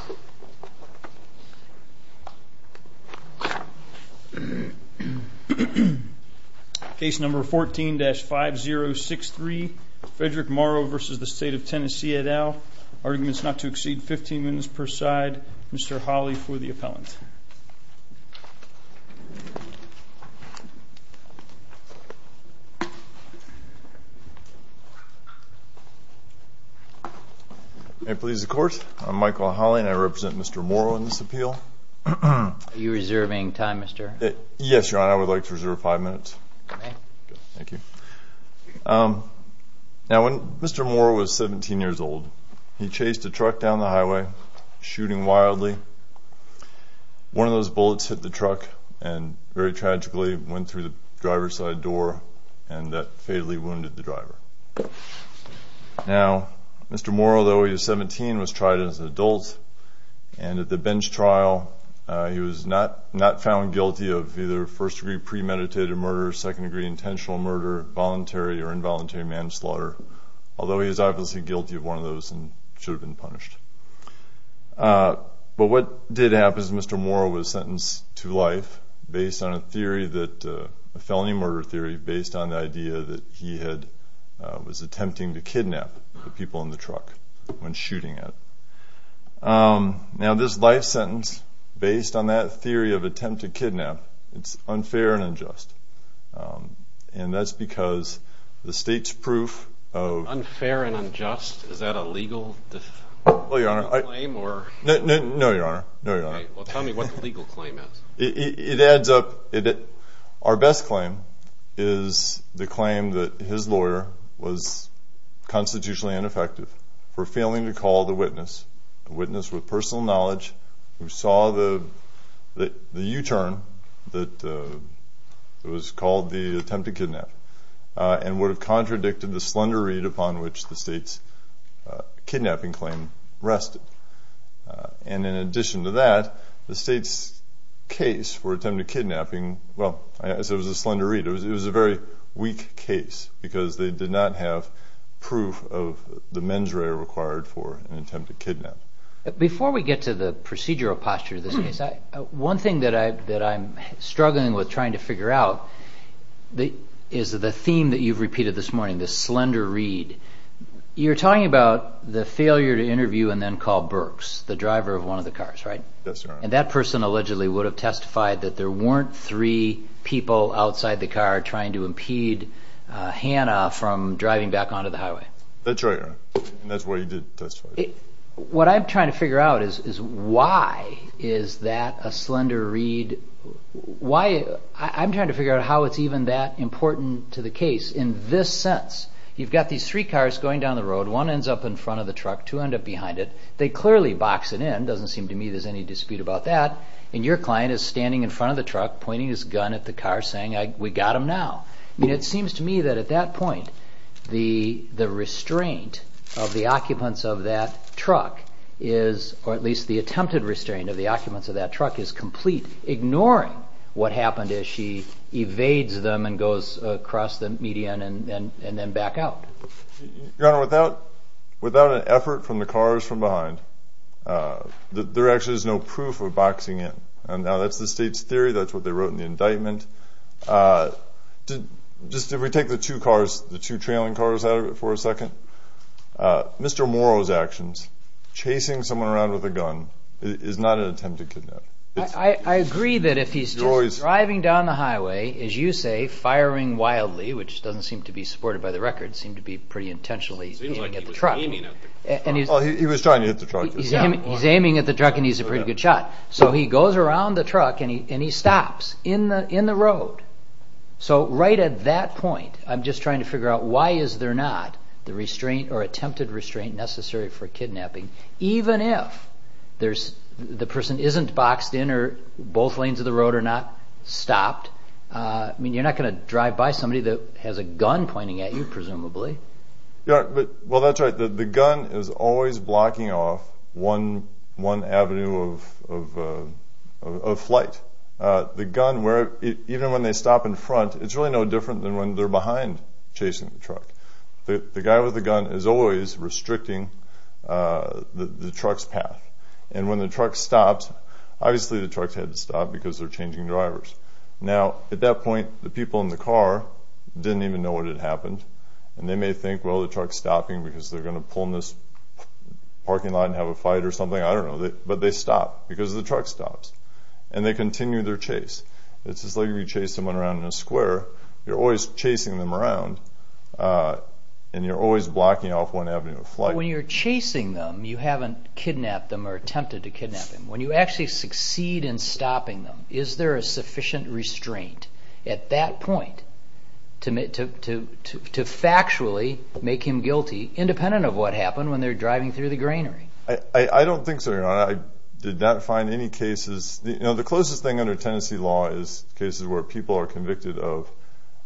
et al. Arguments not to exceed 15 minutes per side. Mr. Hawley for the appellant. May it please the Court, I'm Michael Hawley and I represent Mr. Morrow in this appeal. Are you reserving time, Mr.? Yes, Your Honor, I would like to reserve five minutes. Okay. Thank you. Now, when Mr. Morrow was 17 years old, he chased a truck down the highway, shooting wildly. One of those bullets hit the truck and very tragically went through the driver's side door and that fatally wounded the driver. Now, Mr. Morrow, though he was 17, was tried as an adult, and at the bench trial, he was not found guilty of either first-degree premeditated murder, second-degree intentional murder, voluntary or involuntary manslaughter, although he was obviously guilty of one of those and should have been punished. But what did happen is Mr. Morrow was sentenced to life based on a felony murder theory, based on the idea that he was attempting to kidnap the people in the truck when shooting at them. Now, this life sentence, based on that theory of attempt to kidnap, it's unfair and unjust, and that's because the state's proof of— Unfair and unjust? Is that a legal claim or— No, Your Honor. No, Your Honor. Well, tell me what the legal claim is. It adds up. Our best claim is the claim that his lawyer was constitutionally ineffective for failing to call the witness, a witness with personal knowledge who saw the U-turn that was called the attempt to kidnap, and would have contradicted the slender read upon which the state's kidnapping claim rested. And in addition to that, the state's case for attempt to kidnapping—well, it was a slender read. It was a very weak case because they did not have proof of the mens rea required for an attempt to kidnap. Before we get to the procedural posture of this case, one thing that I'm struggling with trying to figure out is the theme that you've repeated this morning, the slender read. You're talking about the failure to interview and then call Burks, the driver of one of the cars, right? Yes, Your Honor. And that person allegedly would have testified that there weren't three people outside the car trying to impede Hannah from driving back onto the highway. That's right, Your Honor, and that's what he did testify. What I'm trying to figure out is why is that a slender read? Why—I'm trying to figure out how it's even that important to the case in this sense. You've got these three cars going down the road. One ends up in front of the truck, two end up behind it. They clearly box it in. It doesn't seem to me there's any dispute about that. And your client is standing in front of the truck, pointing his gun at the car, saying, We got him now. I mean, it seems to me that at that point the restraint of the occupants of that truck is— or at least the attempted restraint of the occupants of that truck is complete, ignoring what happened as she evades them and goes across the median and then back out. Your Honor, without an effort from the cars from behind, there actually is no proof of boxing in. Now, that's the state's theory. That's what they wrote in the indictment. Just if we take the two cars, the two trailing cars out of it for a second, Mr. Morrow's actions, chasing someone around with a gun, is not an attempted kidnap. I agree that if he's driving down the highway, as you say, firing wildly, which doesn't seem to be supported by the record, seemed to be pretty intentionally aiming at the truck. He was trying to hit the truck. He's aiming at the truck, and he's a pretty good shot. So he goes around the truck, and he stops in the road. So right at that point, I'm just trying to figure out why is there not the restraint or attempted restraint necessary for kidnapping, even if the person isn't boxed in or both lanes of the road are not stopped. I mean, you're not going to drive by somebody that has a gun pointing at you, presumably. Well, that's right. The gun is always blocking off one avenue of flight. The gun, even when they stop in front, it's really no different than when they're behind chasing the truck. The guy with the gun is always restricting the truck's path. And when the truck stops, obviously the truck had to stop because they're changing drivers. Now, at that point, the people in the car didn't even know what had happened, and they may think, well, the truck's stopping because they're going to pull in this parking lot and have a fight or something. I don't know. But they stop because the truck stops, and they continue their chase. It's just like if you chase someone around in a square. You're always chasing them around, and you're always blocking off one avenue of flight. When you're chasing them, you haven't kidnapped them or attempted to kidnap them. When you actually succeed in stopping them, is there a sufficient restraint at that point to factually make him guilty, independent of what happened when they're driving through the granary? I don't think so, Your Honor. I did not find any cases. The closest thing under Tennessee law is cases where people are convicted of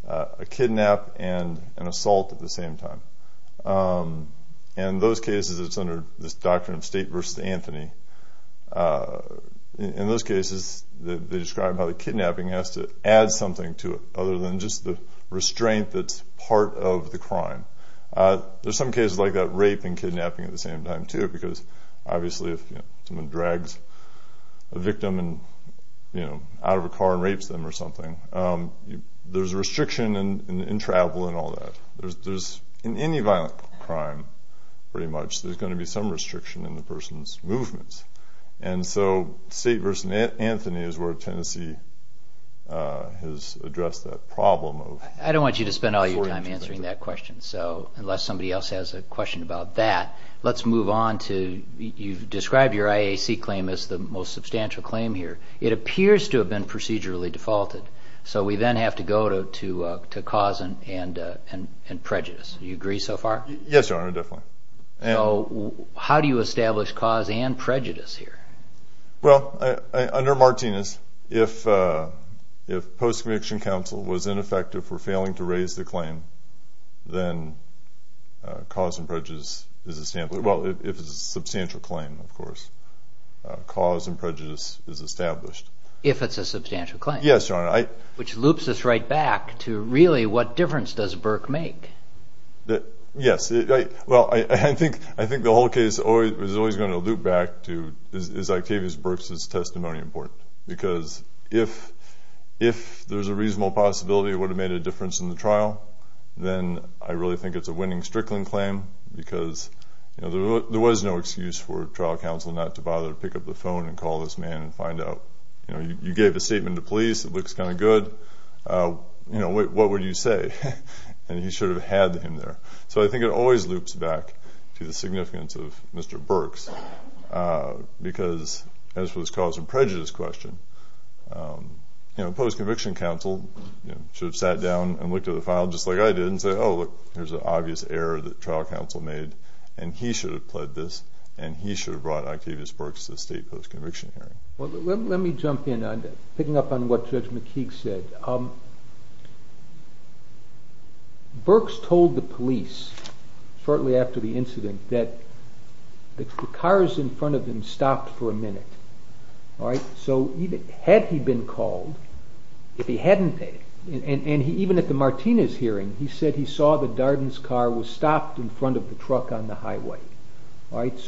a kidnap and an assault at the same time. In those cases, it's under this doctrine of state versus Anthony. In those cases, they describe how the kidnapping has to add something to it other than just the restraint that's part of the crime. There's some cases like that, rape and kidnapping at the same time too, because obviously if someone drags a victim out of a car and rapes them or something, there's a restriction in travel and all that. In any violent crime, pretty much, there's going to be some restriction in the person's movements. And so state versus Anthony is where Tennessee has addressed that problem. I don't want you to spend all your time answering that question, so unless somebody else has a question about that, let's move on to you've described your IAC claim as the most substantial claim here. It appears to have been procedurally defaulted, so we then have to go to cause and prejudice. Do you agree so far? Yes, Your Honor, definitely. So how do you establish cause and prejudice here? Well, under Martinez, if post-conviction counsel was ineffective for failing to raise the claim, then cause and prejudice is a substantial claim, of course. Cause and prejudice is established. If it's a substantial claim? Yes, Your Honor. Which loops us right back to really what difference does Burke make? Yes. Well, I think the whole case is always going to loop back to, is Octavius Burke's testimony important? Because if there's a reasonable possibility it would have made a difference in the trial, then I really think it's a winning Strickland claim because, you know, there was no excuse for trial counsel not to bother to pick up the phone and call this man and find out. You know, you gave a statement to police. It looks kind of good. You know, what would you say? And you should have had him there. So I think it always loops back to the significance of Mr. Burke's because, as was cause and prejudice question, you know, post-conviction counsel should have sat down and looked at the file just like I did and said, oh, look, there's an obvious error that trial counsel made, and he should have pled this, and he should have brought Octavius Burke to the state post-conviction hearing. Well, let me jump in. I'm picking up on what Judge McKeague said. Burke's told the police shortly after the incident that the cars in front of him stopped for a minute. All right? So had he been called, if he hadn't, and even at the Martinez hearing, he said he saw that Darden's car was stopped in front of the truck on the highway. All right?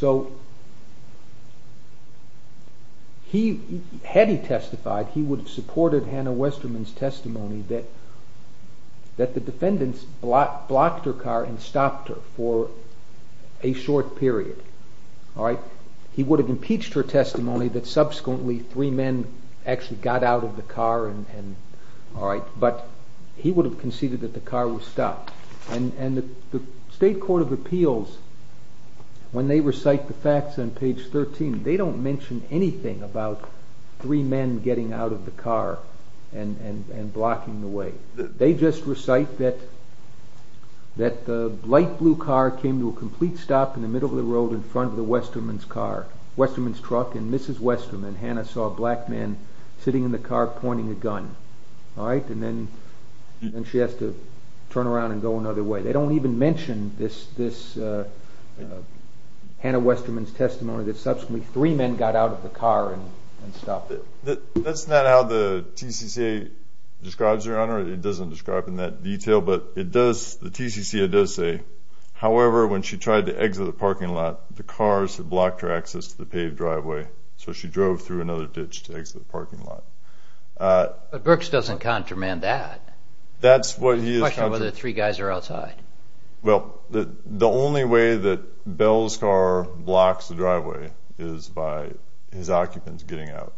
Had he testified, he would have supported Hannah Westerman's testimony that the defendants blocked her car and stopped her for a short period. All right? He would have impeached her testimony that subsequently three men actually got out of the car. All right? But he would have conceded that the car was stopped. And the state court of appeals, when they recite the facts on page 13, they don't mention anything about three men getting out of the car and blocking the way. They just recite that the light blue car came to a complete stop in the middle of the road in front of Westerman's car, Westerman's truck, and Mrs. Westerman, Hannah, saw a black man sitting in the car pointing a gun. All right? And then she has to turn around and go another way. They don't even mention this Hannah Westerman's testimony that subsequently three men got out of the car and stopped it. That's not how the TCCA describes it, Your Honor. It doesn't describe it in that detail. But the TCCA does say, however, when she tried to exit the parking lot, the cars had blocked her access to the paved driveway, so she drove through another ditch to exit the parking lot. But Brooks doesn't contramand that. That's what he is contramanding. The question is whether the three guys are outside. Well, the only way that Bell's car blocks the driveway is by his occupants getting out.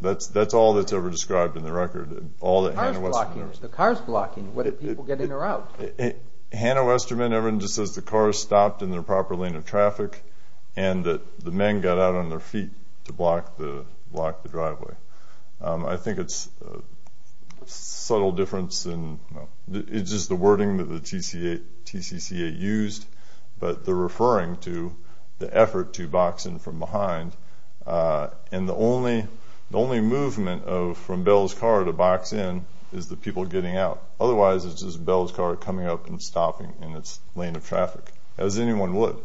That's all that's ever described in the record, all that Hannah Westerman knows. The car's blocking. What if people get in or out? Hannah Westerman, everyone just says the car stopped in the proper lane of traffic and that the men got out on their feet to block the driveway. I think it's a subtle difference in just the wording that the TCCA used, but they're referring to the effort to box in from behind. And the only movement from Bell's car to box in is the people getting out. Otherwise, it's just Bell's car coming up and stopping in its lane of traffic, as anyone would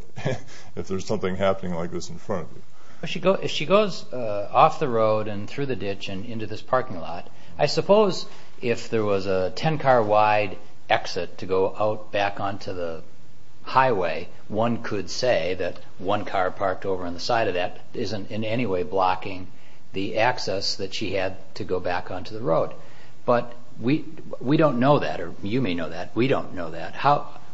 if there's something happening like this in front of you. If she goes off the road and through the ditch and into this parking lot, I suppose if there was a 10-car-wide exit to go out back onto the highway, one could say that one car parked over on the side of that isn't in any way blocking the access that she had to go back onto the road. But we don't know that, or you may know that. We don't know that.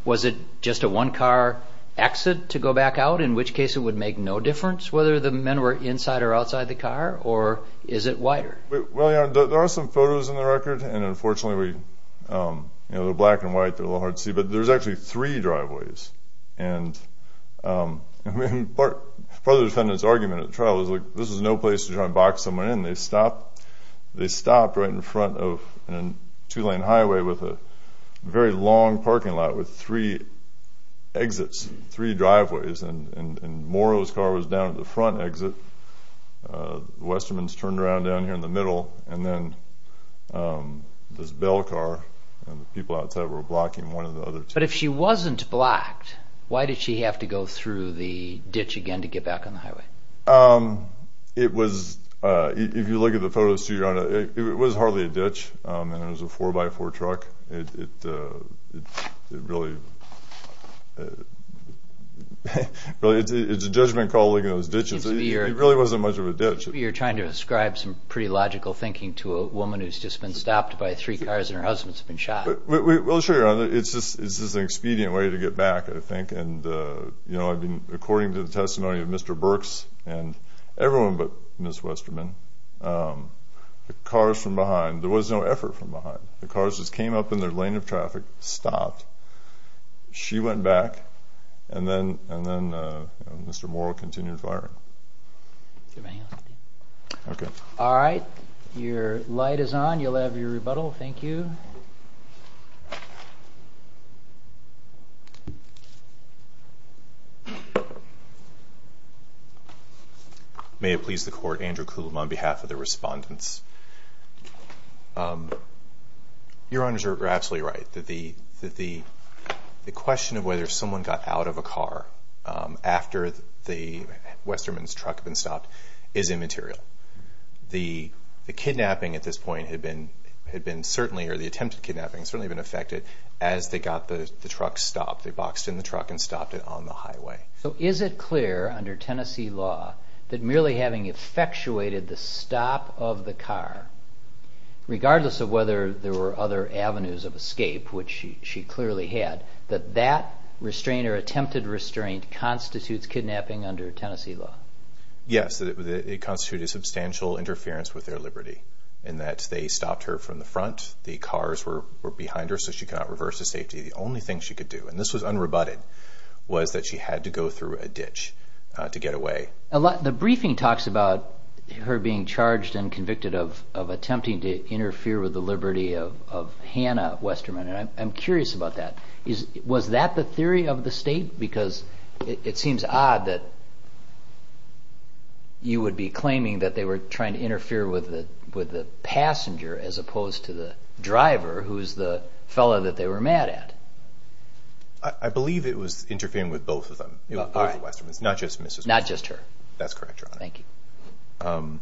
Was it just a one-car exit to go back out, in which case it would make no difference whether the men were inside or outside the car, or is it wider? There are some photos in the record, and unfortunately they're black and white. They're a little hard to see, but there's actually three driveways. Part of the defendant's argument at the trial was, this is no place to try and box someone in. They stopped right in front of a two-lane highway with a very long parking lot with three exits, three driveways, and Morrow's car was down at the front exit. The Westermans turned around down here in the middle, and then this Bell car and the people outside were blocking one of the other two. But if she wasn't blocked, why did she have to go through the ditch again to get back on the highway? If you look at the photos, it was hardly a ditch, and it was a 4x4 truck. It really is a judgment call looking at those ditches. It really wasn't much of a ditch. You're trying to ascribe some pretty logical thinking to a woman who's just been stopped by three cars and her husband's been shot. Well, sure. It's just an expedient way to get back, I think. According to the testimony of Mr. Burks and everyone but Ms. Westerman, the cars from behind, there was no effort from behind. The cars just came up in their lane of traffic, stopped. She went back, and then Mr. Morrow continued firing. All right. Your light is on. You'll have your rebuttal. Thank you. Thank you. May it please the Court, Andrew Coulomb on behalf of the respondents. Your Honors are absolutely right that the question of whether someone got out of a car after Westerman's truck had been stopped is immaterial. The kidnapping at this point had been certainly, or the attempted kidnapping, had certainly been affected as they got the truck stopped. They boxed in the truck and stopped it on the highway. So is it clear under Tennessee law that merely having effectuated the stop of the car, regardless of whether there were other avenues of escape, which she clearly had, that that restraint or attempted restraint constitutes kidnapping under Tennessee law? Yes, it constituted substantial interference with their liberty in that they stopped her from the front. The cars were behind her so she could not reverse to safety. The only thing she could do, and this was unrebutted, was that she had to go through a ditch to get away. The briefing talks about her being charged and convicted of attempting to interfere with the liberty of Hannah Westerman, and I'm curious about that. Was that the theory of the state? Because it seems odd that you would be claiming that they were trying to interfere with the passenger as opposed to the driver, who's the fellow that they were mad at. I believe it was interfering with both of them, both Westermans, not just Mrs. Westerman. Not just her. That's correct, Your Honor. Thank you.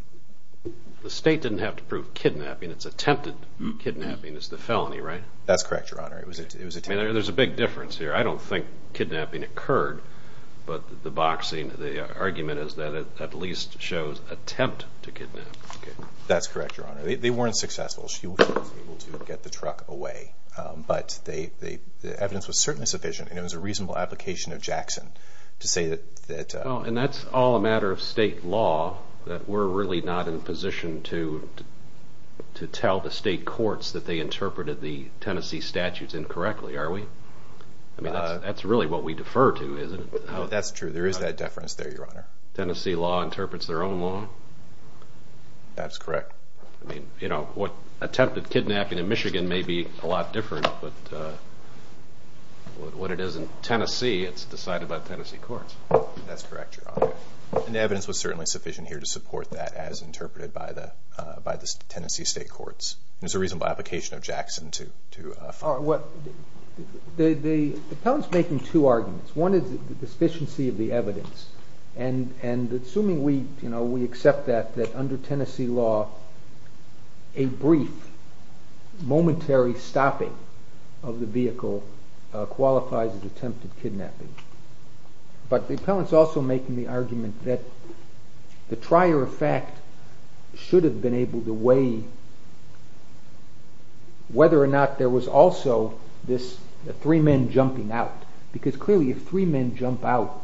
The state didn't have to prove kidnapping. It's attempted kidnapping. It's the felony, right? That's correct, Your Honor. There's a big difference here. I don't think kidnapping occurred, but the boxing, the argument, is that it at least shows attempt to kidnap. That's correct, Your Honor. They weren't successful. She was able to get the truck away, but the evidence was certainly sufficient, and it was a reasonable application of Jackson to say that... And that's all a matter of state law, that we're really not in a position to tell the state courts that they interpreted the Tennessee statutes incorrectly, are we? That's really what we defer to, isn't it? That's true. There is that deference there, Your Honor. Tennessee law interprets their own law? That's correct. Attempted kidnapping in Michigan may be a lot different, but what it is in Tennessee, it's decided by Tennessee courts. That's correct, Your Honor. And the evidence was certainly sufficient here to support that as interpreted by the Tennessee state courts. It was a reasonable application of Jackson to... The appellant's making two arguments. One is the sufficiency of the evidence, and assuming we accept that under Tennessee law, a brief, momentary stopping of the vehicle qualifies as attempted kidnapping. But the appellant's also making the argument that the trier of fact should have been able to weigh whether or not there was also this three men jumping out, because clearly if three men jump out,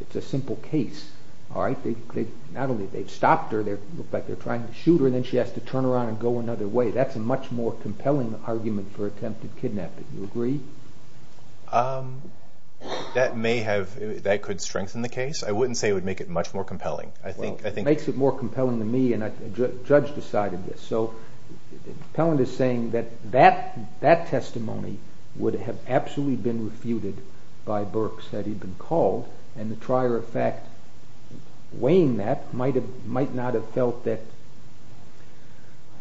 it's a simple case. Not only have they stopped her, they look like they're trying to shoot her, and then she has to turn around and go another way. Do you agree? That could strengthen the case. I wouldn't say it would make it much more compelling. It makes it more compelling to me, and a judge decided this. So the appellant is saying that that testimony would have absolutely been refuted by Burks had he been called, and the trier of fact weighing that might not have felt that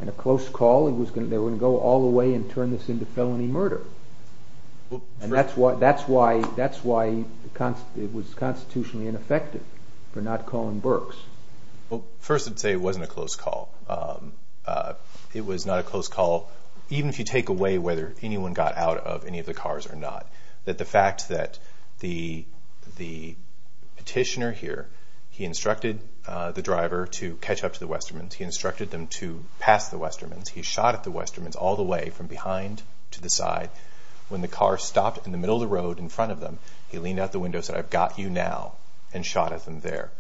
in a close call they were going to go all the way and turn this into felony murder. And that's why it was constitutionally ineffective for not calling Burks. Well, first I'd say it wasn't a close call. It was not a close call, even if you take away whether anyone got out of any of the cars or not, that the fact that the petitioner here, he instructed the driver to catch up to the Westermans, he instructed them to pass the Westermans, he shot at the Westermans all the way from behind to the side. When the car stopped in the middle of the road in front of them, he leaned out the window and said, I've got you now, and shot at them there,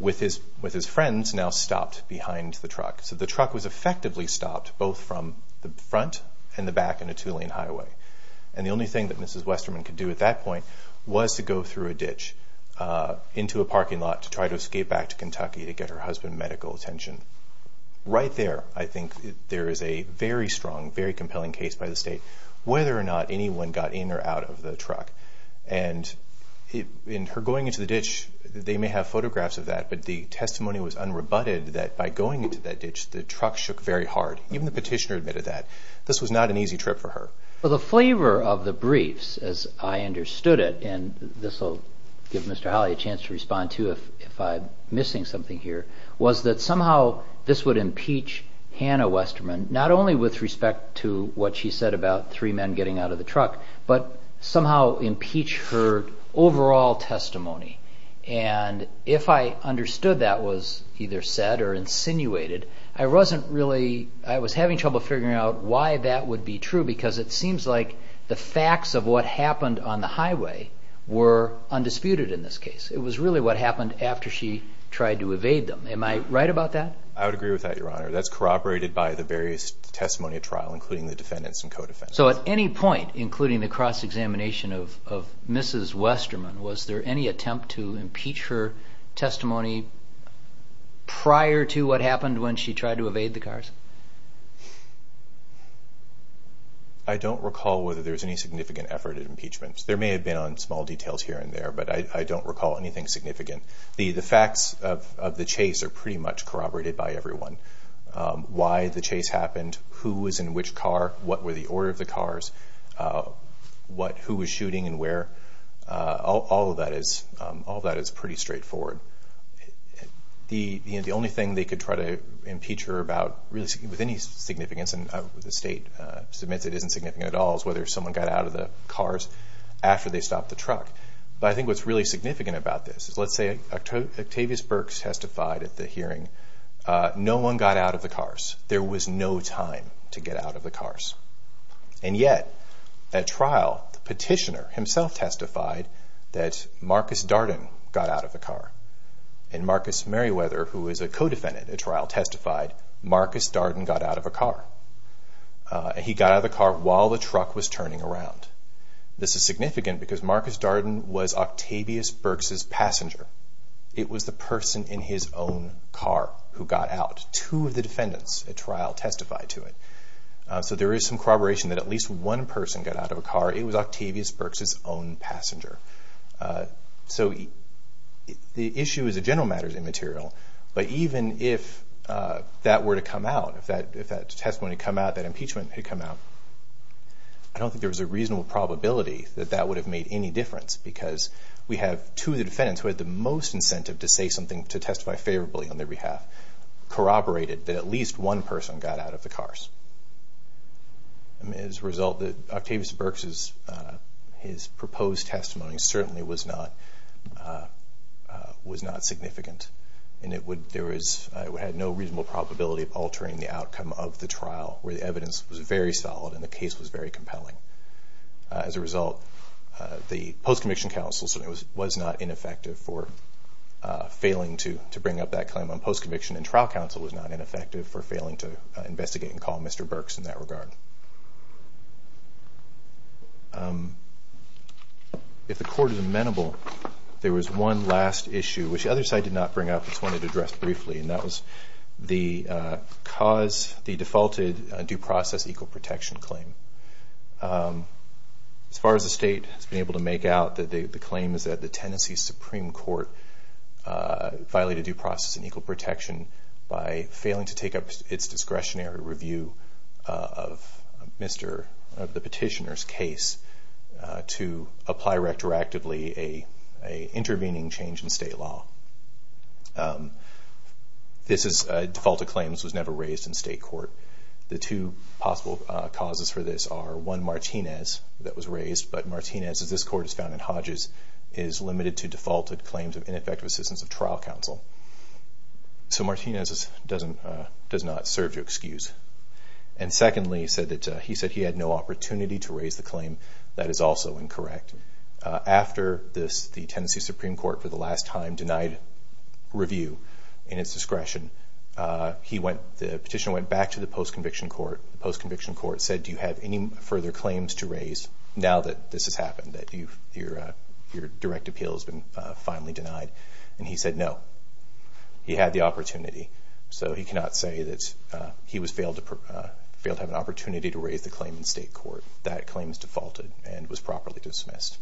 with his friends now stopped behind the truck. So the truck was effectively stopped both from the front and the back in a two-lane highway. And the only thing that Mrs. Westerman could do at that point was to go through a ditch into a parking lot to try to escape back to Kentucky to get her husband medical attention. Right there, I think, there is a very strong, very compelling case by the state whether or not anyone got in or out of the truck. And in her going into the ditch, they may have photographs of that, but the testimony was unrebutted that by going into that ditch, the truck shook very hard. Even the petitioner admitted that. This was not an easy trip for her. Well, the flavor of the briefs, as I understood it, and this will give Mr. Hawley a chance to respond to if I'm missing something here, was that somehow this would impeach Hannah Westerman, not only with respect to what she said about three men getting out of the truck, but somehow impeach her overall testimony. And if I understood that was either said or insinuated, I was having trouble figuring out why that would be true because it seems like the facts of what happened on the highway were undisputed in this case. It was really what happened after she tried to evade them. Am I right about that? I would agree with that, Your Honor. That's corroborated by the various testimony at trial, including the defendants and co-defendants. So at any point, including the cross-examination of Mrs. Westerman, was there any attempt to impeach her testimony prior to what happened when she tried to evade the cars? I don't recall whether there was any significant effort at impeachment. There may have been on small details here and there, but I don't recall anything significant. The facts of the chase are pretty much corroborated by everyone. Why the chase happened, who was in which car, what were the order of the cars, who was shooting and where, all of that is pretty straightforward. The only thing they could try to impeach her about with any significance, and the State submits it isn't significant at all, whether someone got out of the cars after they stopped the truck. But I think what's really significant about this is, let's say Octavius Burks testified at the hearing. No one got out of the cars. There was no time to get out of the cars. And yet, at trial, the petitioner himself testified that Marcus Darden got out of the car. And Marcus Merriweather, who is a co-defendant at trial, testified Marcus Darden got out of a car. He got out of the car while the truck was turning around. This is significant because Marcus Darden was Octavius Burks' passenger. It was the person in his own car who got out. Two of the defendants at trial testified to it. So there is some corroboration that at least one person got out of a car. It was Octavius Burks' own passenger. So the issue as a general matter is immaterial, but even if that were to come out, if that testimony had come out, that impeachment had come out, I don't think there was a reasonable probability that that would have made any difference because we have two of the defendants who had the most incentive to say something, to testify favorably on their behalf, corroborated that at least one person got out of the cars. As a result, Octavius Burks' proposed testimony certainly was not significant. It had no reasonable probability of altering the outcome of the trial where the evidence was very solid and the case was very compelling. As a result, the post-conviction counsel certainly was not ineffective for failing to bring up that claim on post-conviction, and trial counsel was not ineffective for failing to investigate and call Mr. Burks in that regard. If the court is amenable, there was one last issue, which the other side did not bring up but just wanted to address briefly, and that was the defaulted due process equal protection claim. As far as the state has been able to make out, the claim is that the Tennessee Supreme Court violated due process and equal protection by failing to take up its discretionary review of the petitioner's case to apply retroactively an intervening change in state law. This defaulted claim was never raised in state court. The two possible causes for this are, one, Martinez that was raised, but Martinez, as this court has found in Hodges, is limited to defaulted claims of ineffective assistance of trial counsel. So Martinez does not serve to excuse. Secondly, he said he had no opportunity to raise the claim. That is also incorrect. After the Tennessee Supreme Court for the last time denied review in its discretion, the petitioner went back to the post-conviction court. The post-conviction court said, do you have any further claims to raise now that this has happened, that your direct appeal has been finally denied? And he said no. He had the opportunity, so he cannot say that he failed to have an opportunity to raise the claim in state court. That claim is defaulted and was properly dismissed.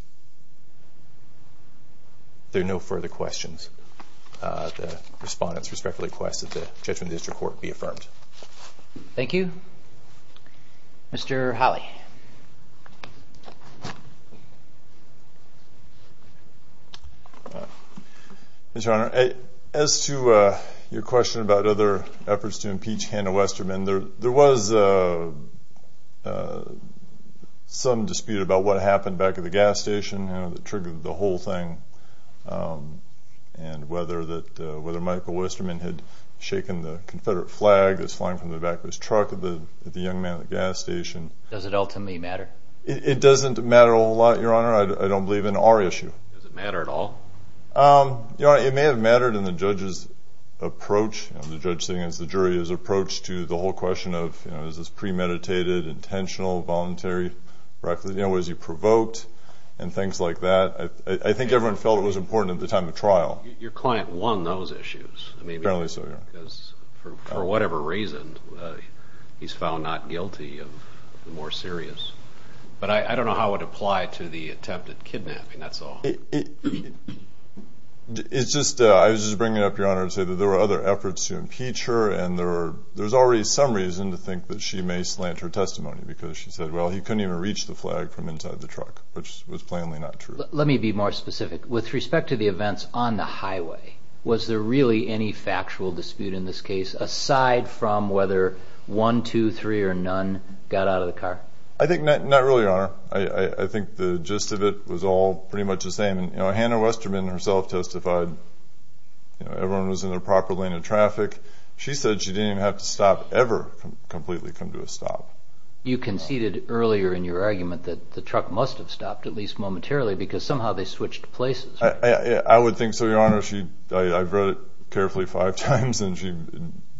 If there are no further questions, the respondents respectfully request that the judgment of the district court be affirmed. Thank you. Mr. Holley. Mr. Honor, as to your question about other efforts to impeach Hannah Westerman, there was some dispute about what happened back at the gas station that triggered the whole thing, and whether Michael Westerman had shaken the Confederate flag that was flying from the back of his truck at the young man at the gas station. Does it ultimately matter? It doesn't matter a whole lot, Your Honor. I don't believe in our issue. Does it matter at all? Your Honor, it may have mattered in the judge's approach, the judge sitting against the jury, his approach to the whole question of is this premeditated, intentional, voluntary, was he provoked, and things like that. I think everyone felt it was important at the time of trial. Your client won those issues. Apparently so, yeah. Because for whatever reason, he's found not guilty of the more serious. But I don't know how it applied to the attempt at kidnapping, that's all. I was just bringing it up, Your Honor, to say that there were other efforts to impeach her, and there's already some reason to think that she may slant her testimony because she said, well, he couldn't even reach the flag from inside the truck, which was plainly not true. Let me be more specific. With respect to the events on the highway, was there really any factual dispute in this case aside from whether one, two, three, or none got out of the car? I think not really, Your Honor. I think the gist of it was all pretty much the same. Hannah Westerman herself testified. Everyone was in their proper lane of traffic. She said she didn't even have to stop ever completely come to a stop. You conceded earlier in your argument that the truck must have stopped, at least momentarily, because somehow they switched places. I would think so, Your Honor. I've read it carefully five times, and she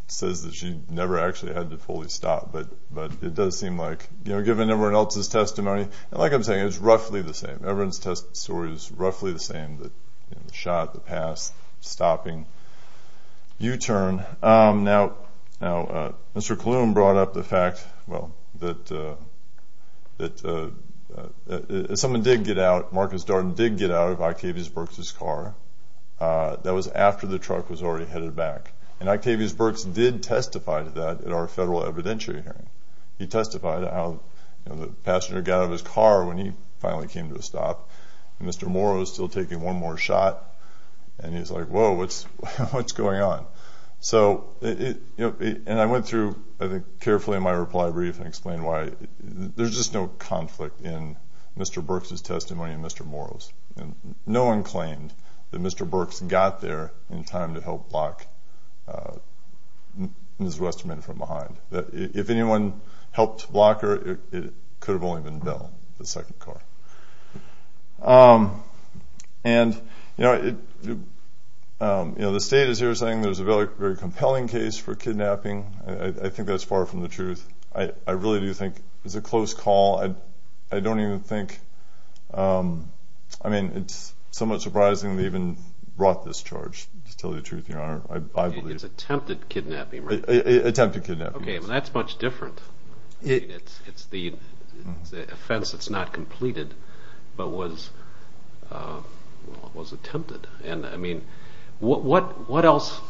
says that she never actually had to fully stop. But it does seem like, given everyone else's testimony, like I'm saying, it's roughly the same. Everyone's testimony is roughly the same, the shot, the pass, stopping, U-turn. Now, Mr. Klum brought up the fact that someone did get out. Marcus Darden did get out of Octavius Birx's car. That was after the truck was already headed back, and Octavius Birx did testify to that at our federal evidentiary hearing. He testified how the passenger got out of his car when he finally came to a stop, and Mr. Morrow is still taking one more shot, and he's like, whoa, what's going on? And I went through, I think, carefully in my reply brief and explained why there's just no conflict in Mr. Birx's testimony and Mr. Morrow's. No one claimed that Mr. Birx got there in time to help block Ms. Westerman from behind. If anyone helped block her, it could have only been Bill, the second car. And, you know, the state is here saying there's a very compelling case for kidnapping. I think that's far from the truth. I really do think it's a close call. I don't even think, I mean, it's somewhat surprising they even brought this charge, to tell you the truth, Your Honor. It's attempted kidnapping, right? Attempted kidnapping, yes. Okay, but that's much different. It's the offense that's not completed but was attempted. And, I mean, what else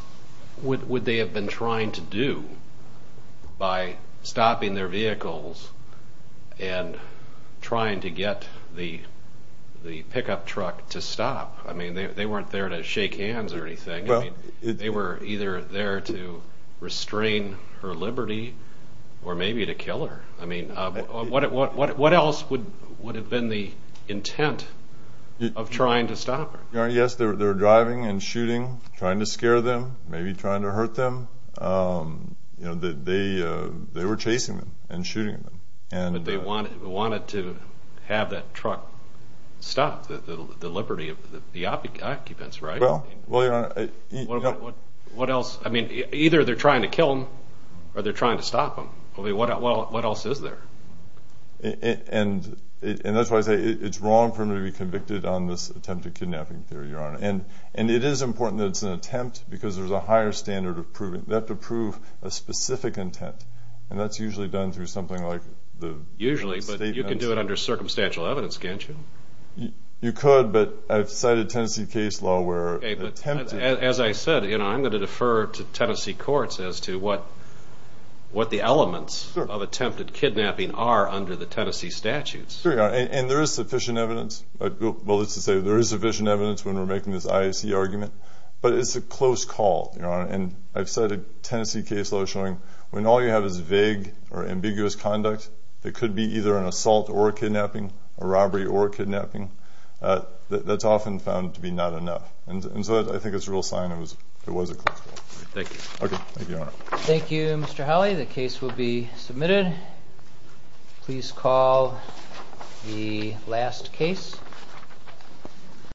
would they have been trying to do by stopping their vehicles and trying to get the pickup truck to stop? I mean, they weren't there to shake hands or anything. They were either there to restrain her liberty or maybe to kill her. I mean, what else would have been the intent of trying to stop her? Yes, they were driving and shooting, trying to scare them, maybe trying to hurt them. They were chasing them and shooting them. But they wanted to have that truck stop, the liberty of the occupants, right? Well, Your Honor, what else? I mean, either they're trying to kill them or they're trying to stop them. What else is there? And that's why I say it's wrong for them to be convicted on this attempted kidnapping theory, Your Honor. And it is important that it's an attempt because there's a higher standard of proving. They have to prove a specific intent, and that's usually done through something like the statements. Usually, but you can do it under circumstantial evidence, can't you? You could, but I've cited Tennessee case law where an attempt is... Okay, but as I said, I'm going to defer to Tennessee courts as to what the elements of attempted kidnapping are under the Tennessee statutes. Sure, Your Honor, and there is sufficient evidence. Well, let's just say there is sufficient evidence when we're making this IAC argument, but it's a close call, Your Honor. And I've cited Tennessee case law showing when all you have is vague or ambiguous conduct, it could be either an assault or a kidnapping, a robbery or a kidnapping. That's often found to be not enough, and so I think it's a real sign it was a close call. Thank you. Okay, thank you, Your Honor. Thank you, Mr. Howley. The case will be submitted. Please call the last case.